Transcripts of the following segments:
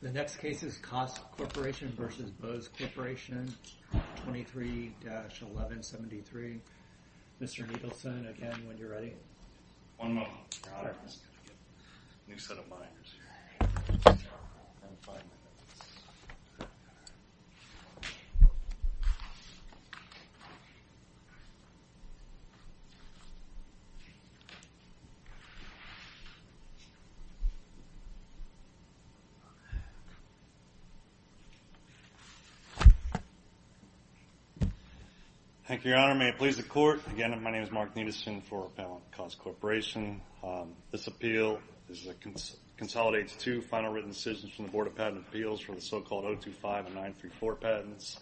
The next case is KOSS Corporation v. Bose Corporation 23-1173. Mr. Niedlson, again, when you're ready. One moment. Thank you, Your Honor. May it please the Court. Again, my name is Mark Niedlson for Appellant KOSS Corporation. This appeal consolidates two final written decisions from the Board of Patent Appeals for the so-called 025 and 934 patents.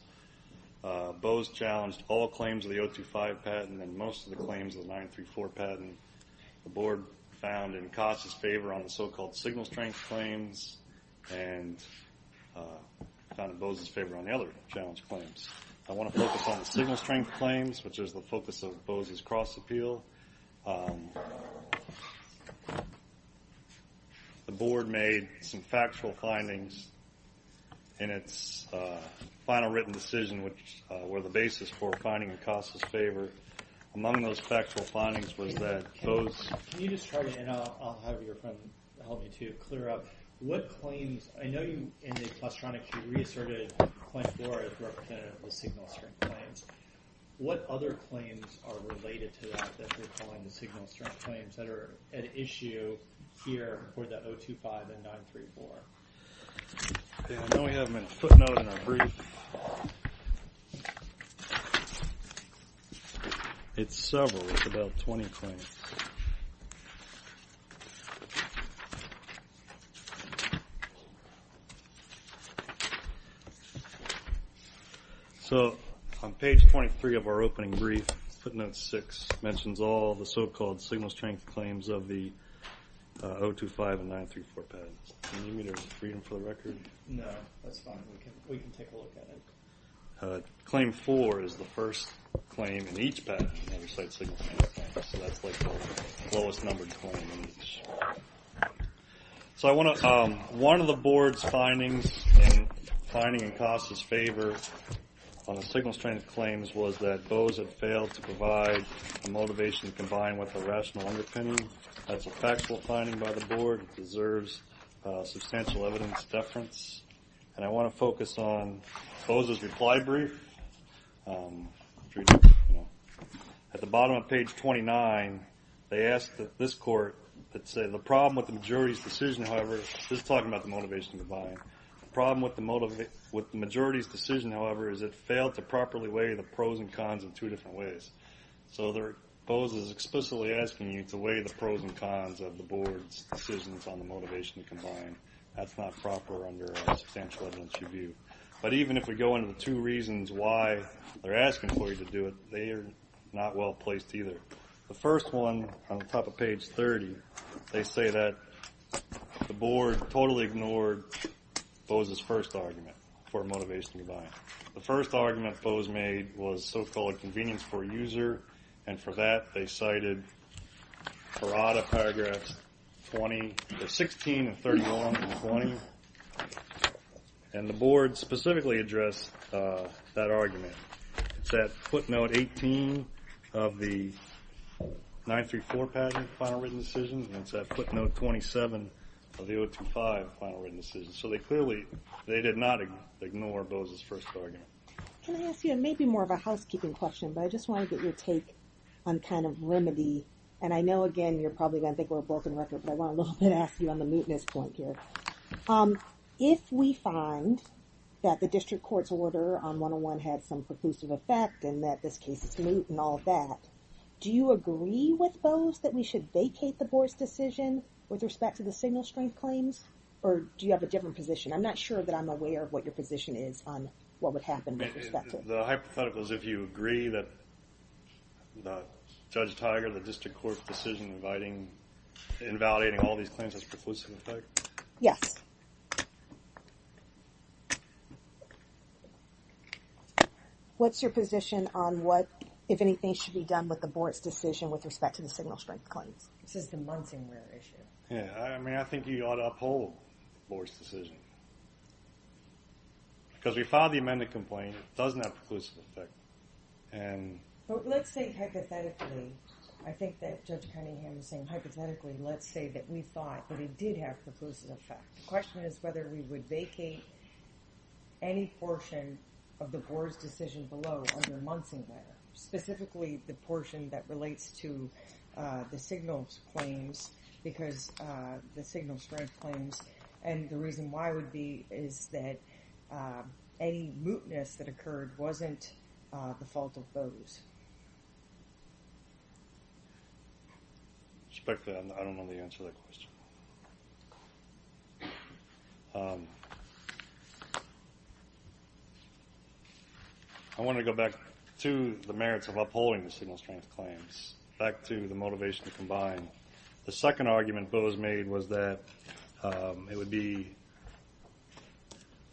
Bose challenged all claims of the 025 patent and most of the claims of the 934 patent. The Board found in KOSS' favor on the so-called signal strength claims and found in Bose's favor on the other challenge claims. I want to focus on the signal strength claims, which is the focus of Bose's cross-appeal. The Board made some factual findings in its final written decision, which were the basis for finding in KOSS' favor. Among those factual findings was that Bose... Can you just try to, and I'll have your friend help you to clear up, what claims... I know in the claustronics you reasserted claim 4 as representative of the signal strength claims. What other claims are related to that that you're calling the signal strength claims that are at issue here for the 025 and 934? I know we have a footnote in our brief. It's several. It's about 20 claims. So, on page 23 of our opening brief, footnote 6 mentions all the so-called signal strength claims of the 025 and 934 patents. Can you read them for the record? No, that's fine. We can take a look at it. Claim 4 is the first claim in each patent that we cite signal strength claims, so that's like the lowest-numbered claim in each. So, one of the Board's findings in finding in KOSS' favor on the signal strength claims was that Bose had failed to provide a motivation combined with a rational underpinning. That's a factual finding by the Board. It deserves substantial evidence deference. And I want to focus on Bose's reply brief. At the bottom of page 29, they ask that this court that said the problem with the majority's decision, however, just talking about the motivation combined, the problem with the majority's decision, however, is it failed to properly weigh the pros and cons in two different ways. So, Bose is explicitly asking you to weigh the pros and cons of the Board's decisions on the motivation combined. That's not proper under a substantial evidence review. But even if we go into the two reasons why they're asking for you to do it, they are not well-placed either. The first one, on the top of page 30, they say that the Board totally ignored Bose's first argument for motivation combined. The first argument Bose made was so-called convenience for a user. And for that, they cited Parada paragraphs 16 and 31 and 20. And the Board specifically addressed that argument. It's at footnote 18 of the 934 patent, final written decision. And it's at footnote 27 of the 025 final written decision. So, they clearly, they did not ignore Bose's first argument. Can I ask you, and maybe more of a housekeeping question, but I just want to get your take on kind of remedy. And I know, again, you're probably going to think we're a broken record, but I want to ask you on the mootness point here. If we find that the district court's order on 101 had some preclusive effect and that this case is moot and all of that, do you agree with Bose that we should vacate the Board's decision with respect to the single strength claims? Or do you have a different position? I'm not sure that I'm aware of what your position is on what would happen with respect to it. The hypothetical is if you agree that Judge Tiger, the district court's decision inviting, invalidating all these claims has preclusive effect. Yes. What's your position on what, if anything, should be done with the Board's decision with respect to the single strength claims? This is the Munsingware issue. Yeah. I mean, I think you ought to uphold the Board's decision. Because we filed the amended complaint. It doesn't have preclusive effect. But let's say hypothetically, I think that Judge Cunningham is saying hypothetically, let's say that we thought that it did have preclusive effect. The question is whether we would vacate any portion of the Board's decision below under Munsingware, specifically the portion that relates to the single strength claims. And the reason why would be is that any mootness that occurred wasn't the fault of Bose. Respect to that, I don't know the answer to that question. I wanted to go back to the merits of upholding the single strength claims, back to the motivation to combine. The second argument Bose made was that it would be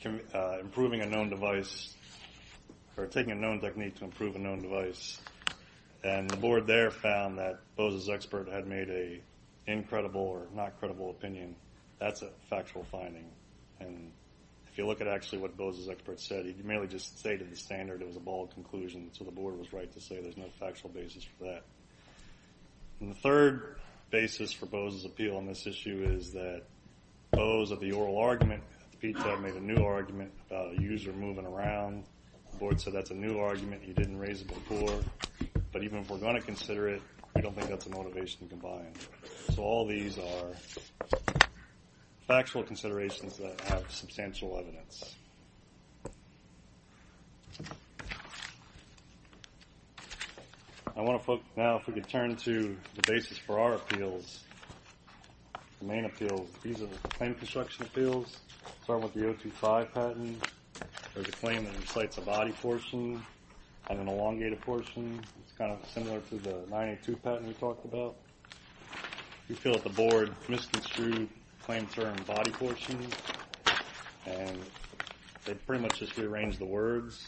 improving a known device or taking a known technique to improve a known device. And the Board there found that Bose's expert had made an incredible or not credible opinion. That's a factual finding. And if you look at actually what Bose's expert said, he merely just stated the standard. It was a bold conclusion. So the Board was right to say there's no factual basis for that. And the third basis for Bose's appeal on this issue is that Bose of the oral argument made a new argument about a user moving around. The Board said that's a new argument. He didn't raise it before. But even if we're going to consider it, we don't think that's a motivation to combine. So all these are factual considerations that have substantial evidence. I want to focus now, if we could turn to the basis for our appeals, the main appeals. These are the claim construction appeals, starting with the 025 patent. There's a claim that incites a body portion and an elongated portion. It's kind of similar to the 982 patent we talked about. We feel that the Board misconstrued the claim term body portion. And they pretty much just rearranged the words.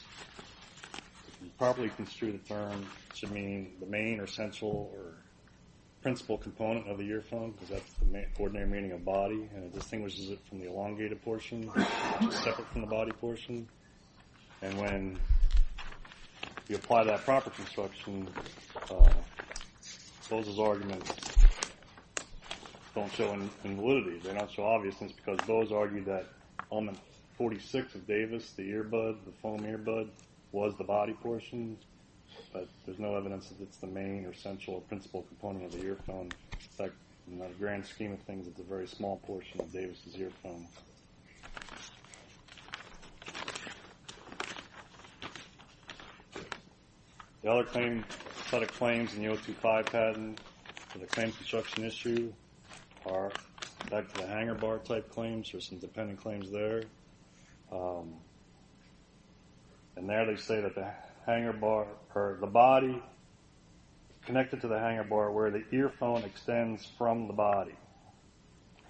Properly construed term should mean the main or central or principal component of the earphone, because that's the ordinary meaning of body. And it distinguishes it from the elongated portion, separate from the body portion. And when you apply that proper construction, those arguments don't show invalidity. They don't show obviousness, because those argue that on the 46th of Davis, the earbud, the foam earbud, was the body portion. But there's no evidence that it's the main or central or principal component of the earphone. In fact, in the grand scheme of things, it's a very small portion of Davis' earphone. The other set of claims in the 025 patent for the claim construction issue are back to the hanger bar type claims. There's some dependent claims there. And there they say that the hanger bar, or the body connected to the hanger bar where the earphone extends from the body.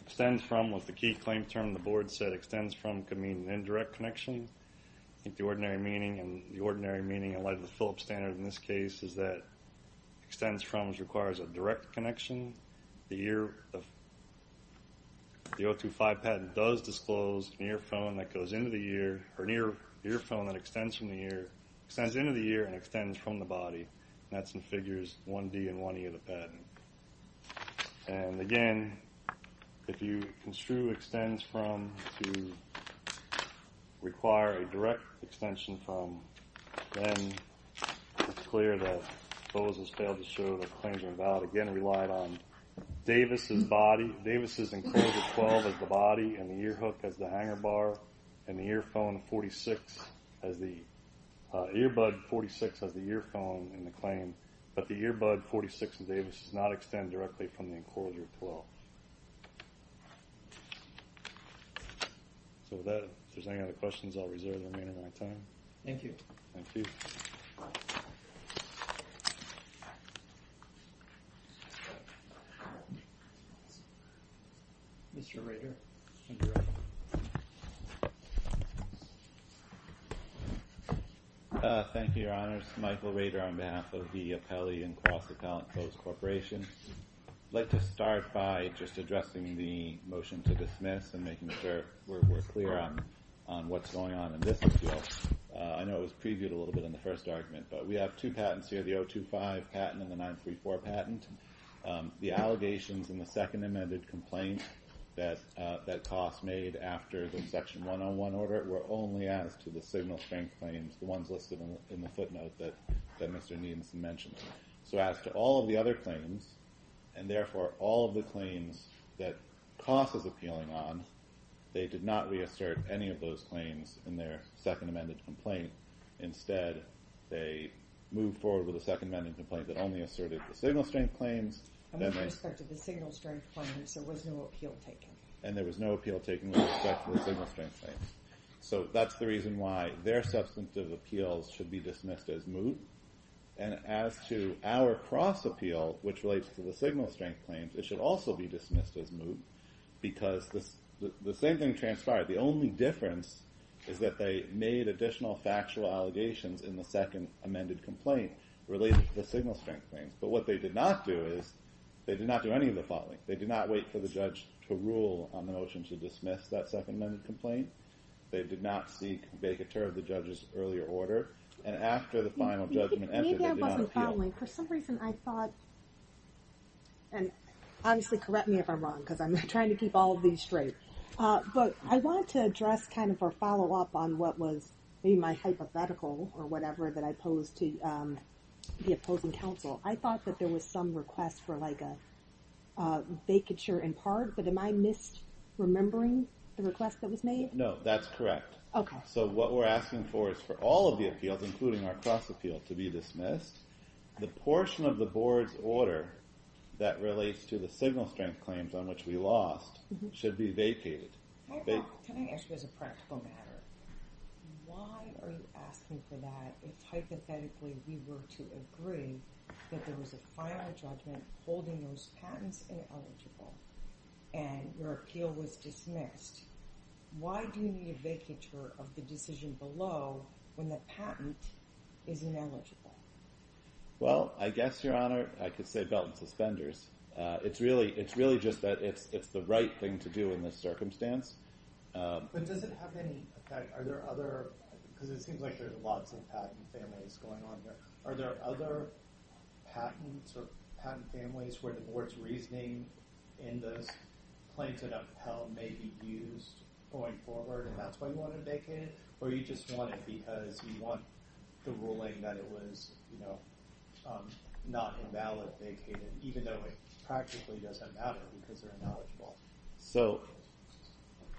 Extends from was the key claim term the Board said. Extends from could mean an indirect connection. I think the ordinary meaning in light of the Phillips standard in this case is that extends from requires a direct connection. The 025 patent does disclose an earphone that extends into the ear and extends from the body. And that's in figures 1D and 1E of the patent. And again, if you construe extends from to require a direct extension from, then it's clear that Bowles has failed to show that the claims are invalid. Again, it relied on Davis' body. Davis' enclosure 12 as the body and the ear hook as the hanger bar and the earphone 46 as the earbud 46 as the earphone in the claim. But the earbud 46 and Davis does not extend directly from the enclosure 12. So that there's any other questions I'll reserve the remainder of my time. Thank you. Thank you. Mr. Rader. Thank you. Thank you, Your Honors. Michael Rader on behalf of the Appellee and Cross Appellate Close Corporation. I'd like to start by just addressing the motion to dismiss and making sure we're clear on what's going on in this appeal. I know it was previewed a little bit in the first argument, but we have two patents here, the 025 patent and the 934 patent. The allegations in the second amended complaint that Coss made after the section 101 order were only as to the signal strength claims, the ones listed in the footnote that Mr. Needhamson mentioned. So as to all of the other claims, and therefore all of the claims that Coss is appealing on, they did not reassert any of those claims in their second amended complaint. Instead, they moved forward with a second amended complaint that only asserted the signal strength claims. And with respect to the signal strength claims, there was no appeal taken. And there was no appeal taken with respect to the signal strength claims. So that's the reason why their substantive appeals should be dismissed as moot. And as to our cross appeal, which relates to the signal strength claims, it should also be dismissed as moot. Because the same thing transpired. The only difference is that they made additional factual allegations in the second amended complaint related to the signal strength claims. But what they did not do is they did not do any of the following. They did not wait for the judge to rule on the notion to dismiss that second amended complaint. They did not seek vacatur of the judge's earlier order. And after the final judgment entered, they did not appeal. For some reason I thought, and obviously correct me if I'm wrong because I'm trying to keep all of these straight. But I want to address kind of a follow up on what was my hypothetical or whatever that I posed to the opposing counsel. I thought that there was some request for like a vacatur in part, but am I misremembering the request that was made? No, that's correct. Okay. So what we're asking for is for all of the appeals, including our cross appeal, to be dismissed. The portion of the board's order that relates to the signal strength claims on which we lost should be vacated. Can I ask you as a practical matter? Why are you asking for that if hypothetically we were to agree that there was a final judgment holding those patents ineligible and your appeal was dismissed? Why do you need a vacatur of the decision below when the patent is ineligible? Well, I guess, Your Honor, I could say belt and suspenders. It's really just that it's the right thing to do in this circumstance. But does it have any effect? Because it seems like there's lots of patent families going on there. Are there other patents or patent families where the board's reasoning in this plaintiff appeal may be used going forward and that's why you want it vacated? Or you just want it because you want the ruling that it was not invalid vacated, even though it practically doesn't matter because they're ineligible?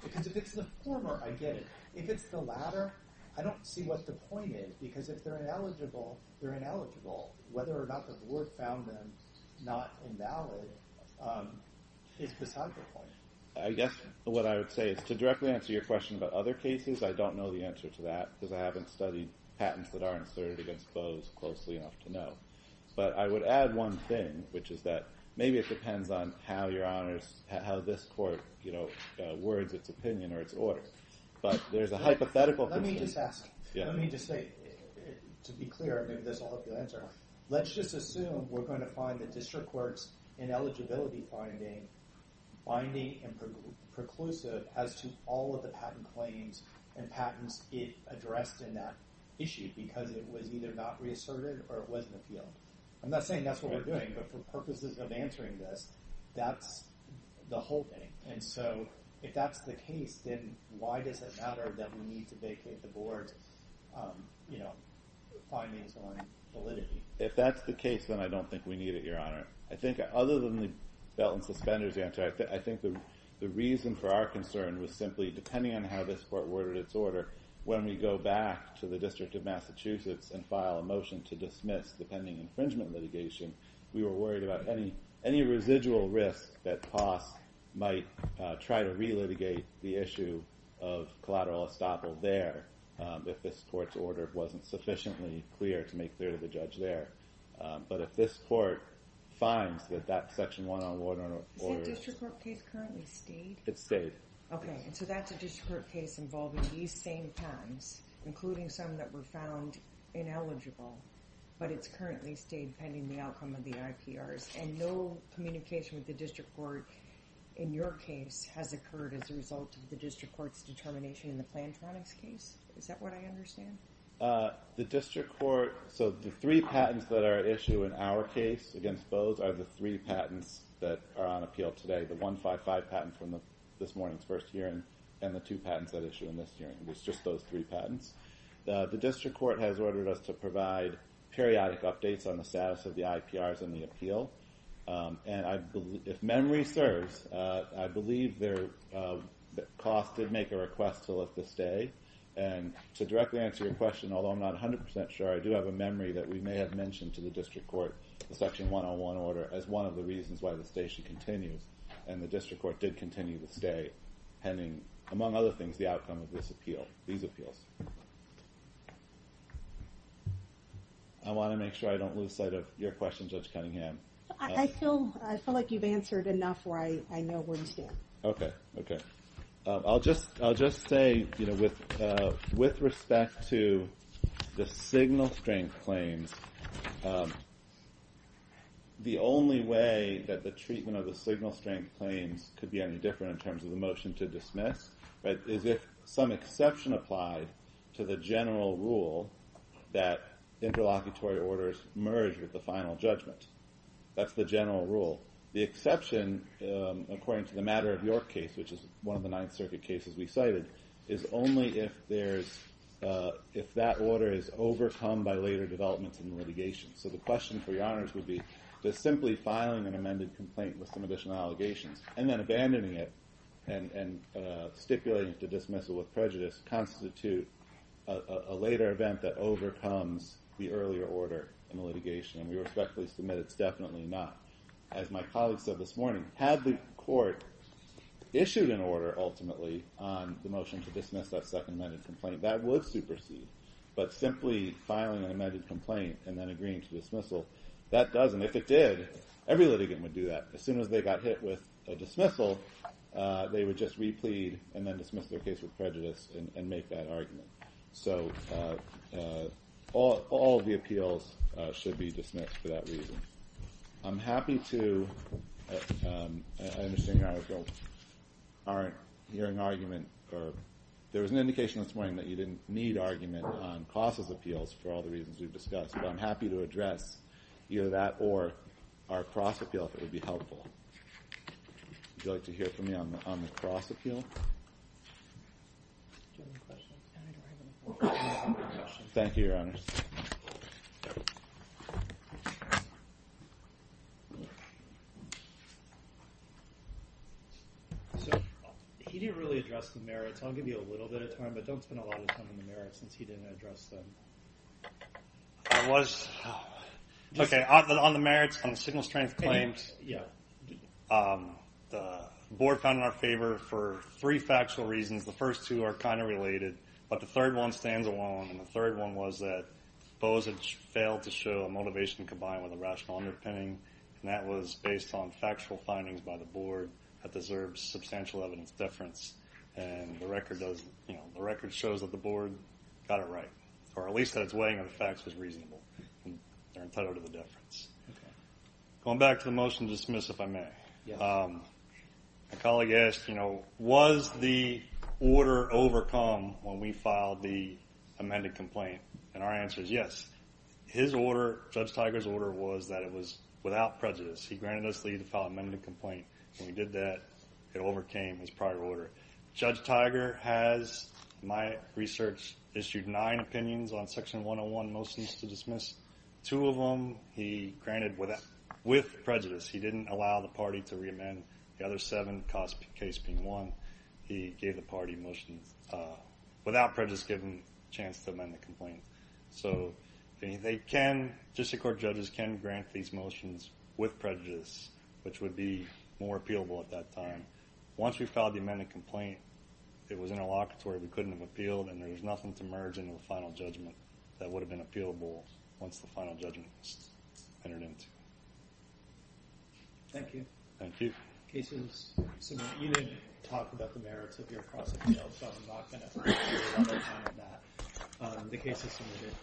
Because if it's the former, I get it. If it's the latter, I don't see what the point is because if they're ineligible, they're ineligible. Whether or not the board found them not invalid is beside the point. I guess what I would say is to directly answer your question about other cases, I don't know the answer to that because I haven't studied patents that are inserted against Bowe's closely enough to know. But I would add one thing, which is that maybe it depends on how this court words its opinion or its order. But there's a hypothetical— Let me just ask. Let me just say, to be clear, and maybe this will help you answer. Let's just assume we're going to find the district court's ineligibility finding binding and preclusive as to all of the patent claims and patents it addressed in that issue because it was either not reasserted or it was in the field. I'm not saying that's what we're doing, but for purposes of answering this, that's the whole thing. If that's the case, then why does it matter that we need to vacate the board's findings on validity? If that's the case, then I don't think we need it, Your Honor. Other than the belt and suspenders answer, I think the reason for our concern was simply, depending on how this court worded its order, when we go back to the District of Massachusetts and file a motion to dismiss the pending infringement litigation, we were worried about any residual risk that POS might try to re-litigate the issue of collateral estoppel there if this court's order wasn't sufficiently clear to make clear to the judge there. But if this court finds that that section 101... Is that district court case currently stayed? It stayed. Okay, and so that's a district court case involving these same patents, including some that were found ineligible, but it's currently stayed pending the outcome of the IPRs. And no communication with the district court in your case has occurred as a result of the district court's determination in the Plantronics case? Is that what I understand? The district court... So the three patents that are at issue in our case against POS are the three patents that are on appeal today, the 155 patent from this morning's first hearing and the two patents that issue in this hearing. It's just those three patents. The district court has ordered us to provide periodic updates on the status of the IPRs and the appeal. And if memory serves, I believe that POS did make a request to let this stay. And to directly answer your question, although I'm not 100% sure, I do have a memory that we may have mentioned to the district court the section 101 order as one of the reasons why the station continues. And the district court did continue to stay pending, among other things, the outcome of this appeal, these appeals. I want to make sure I don't lose sight of your question, Judge Cunningham. I feel like you've answered enough where I know where you stand. I'll just say with respect to the signal strength claims, the only way that the treatment of the signal strength claims could be any different in terms of the motion to dismiss is if some exception applied to the general rule that interlocutory orders merge with the final judgment. That's the general rule. The exception, according to the matter of your case, which is one of the Ninth Circuit cases we cited, is only if that order is overcome by later developments in the litigation. So the question for your honors would be, does simply filing an amended complaint with some additional allegations and then abandoning it and stipulating it to dismissal with prejudice constitute a later event that overcomes the earlier order in the litigation? And we respectfully submit it's definitely not. As my colleague said this morning, had the court issued an order, ultimately, on the motion to dismiss that second amended complaint, that would supersede. But simply filing an amended complaint and then agreeing to dismissal, that doesn't. If it did, every litigant would do that. As soon as they got hit with a dismissal, they would just replead and then dismiss their case with prejudice and make that argument. So all of the appeals should be dismissed for that reason. I'm happy to, I understand your argument, there was an indication this morning that you didn't need argument on Cross's appeals for all the reasons we've discussed, but I'm happy to address either that or our Cross appeal if it would be helpful. Would you like to hear from me on the Cross appeal? Do you have any questions? Thank you, Your Honor. He didn't really address the merits, I'll give you a little bit of time, but don't spend a lot of time on the merits since he didn't address them. Okay, on the merits, on the signal strength claims, the board found in our favor for three factual reasons. The first two are kind of related, but the third one stands alone. And the third one was that Bose had failed to show a motivation combined with a rational underpinning, and that was based on factual findings by the board that deserves substantial evidence deference. And the record shows that the board got it right, or at least that its weighing of the facts was reasonable, and they're entitled to the deference. Going back to the motion to dismiss, if I may, a colleague asked, you know, was the order overcome when we filed the amended complaint? And our answer is yes. His order, Judge Tiger's order, was that it was without prejudice. He granted us leave to file an amended complaint. When we did that, it overcame his prior order. Judge Tiger has, in my research, issued nine opinions on Section 101 motions to dismiss. Two of them he granted with prejudice. He didn't allow the party to reamend. The other seven caused the case being won. He gave the party motions without prejudice, giving them a chance to amend the complaint. So they can, district court judges can grant these motions with prejudice, which would be more appealable at that time. Once we filed the amended complaint, it was interlocutory. We couldn't have appealed, and there was nothing to merge into a final judgment that would have been appealable once the final judgment was entered into. Thank you. Thank you. You didn't talk about the merits of your prosecution, so I'm not going to spend a lot of time on that. The case is submitted.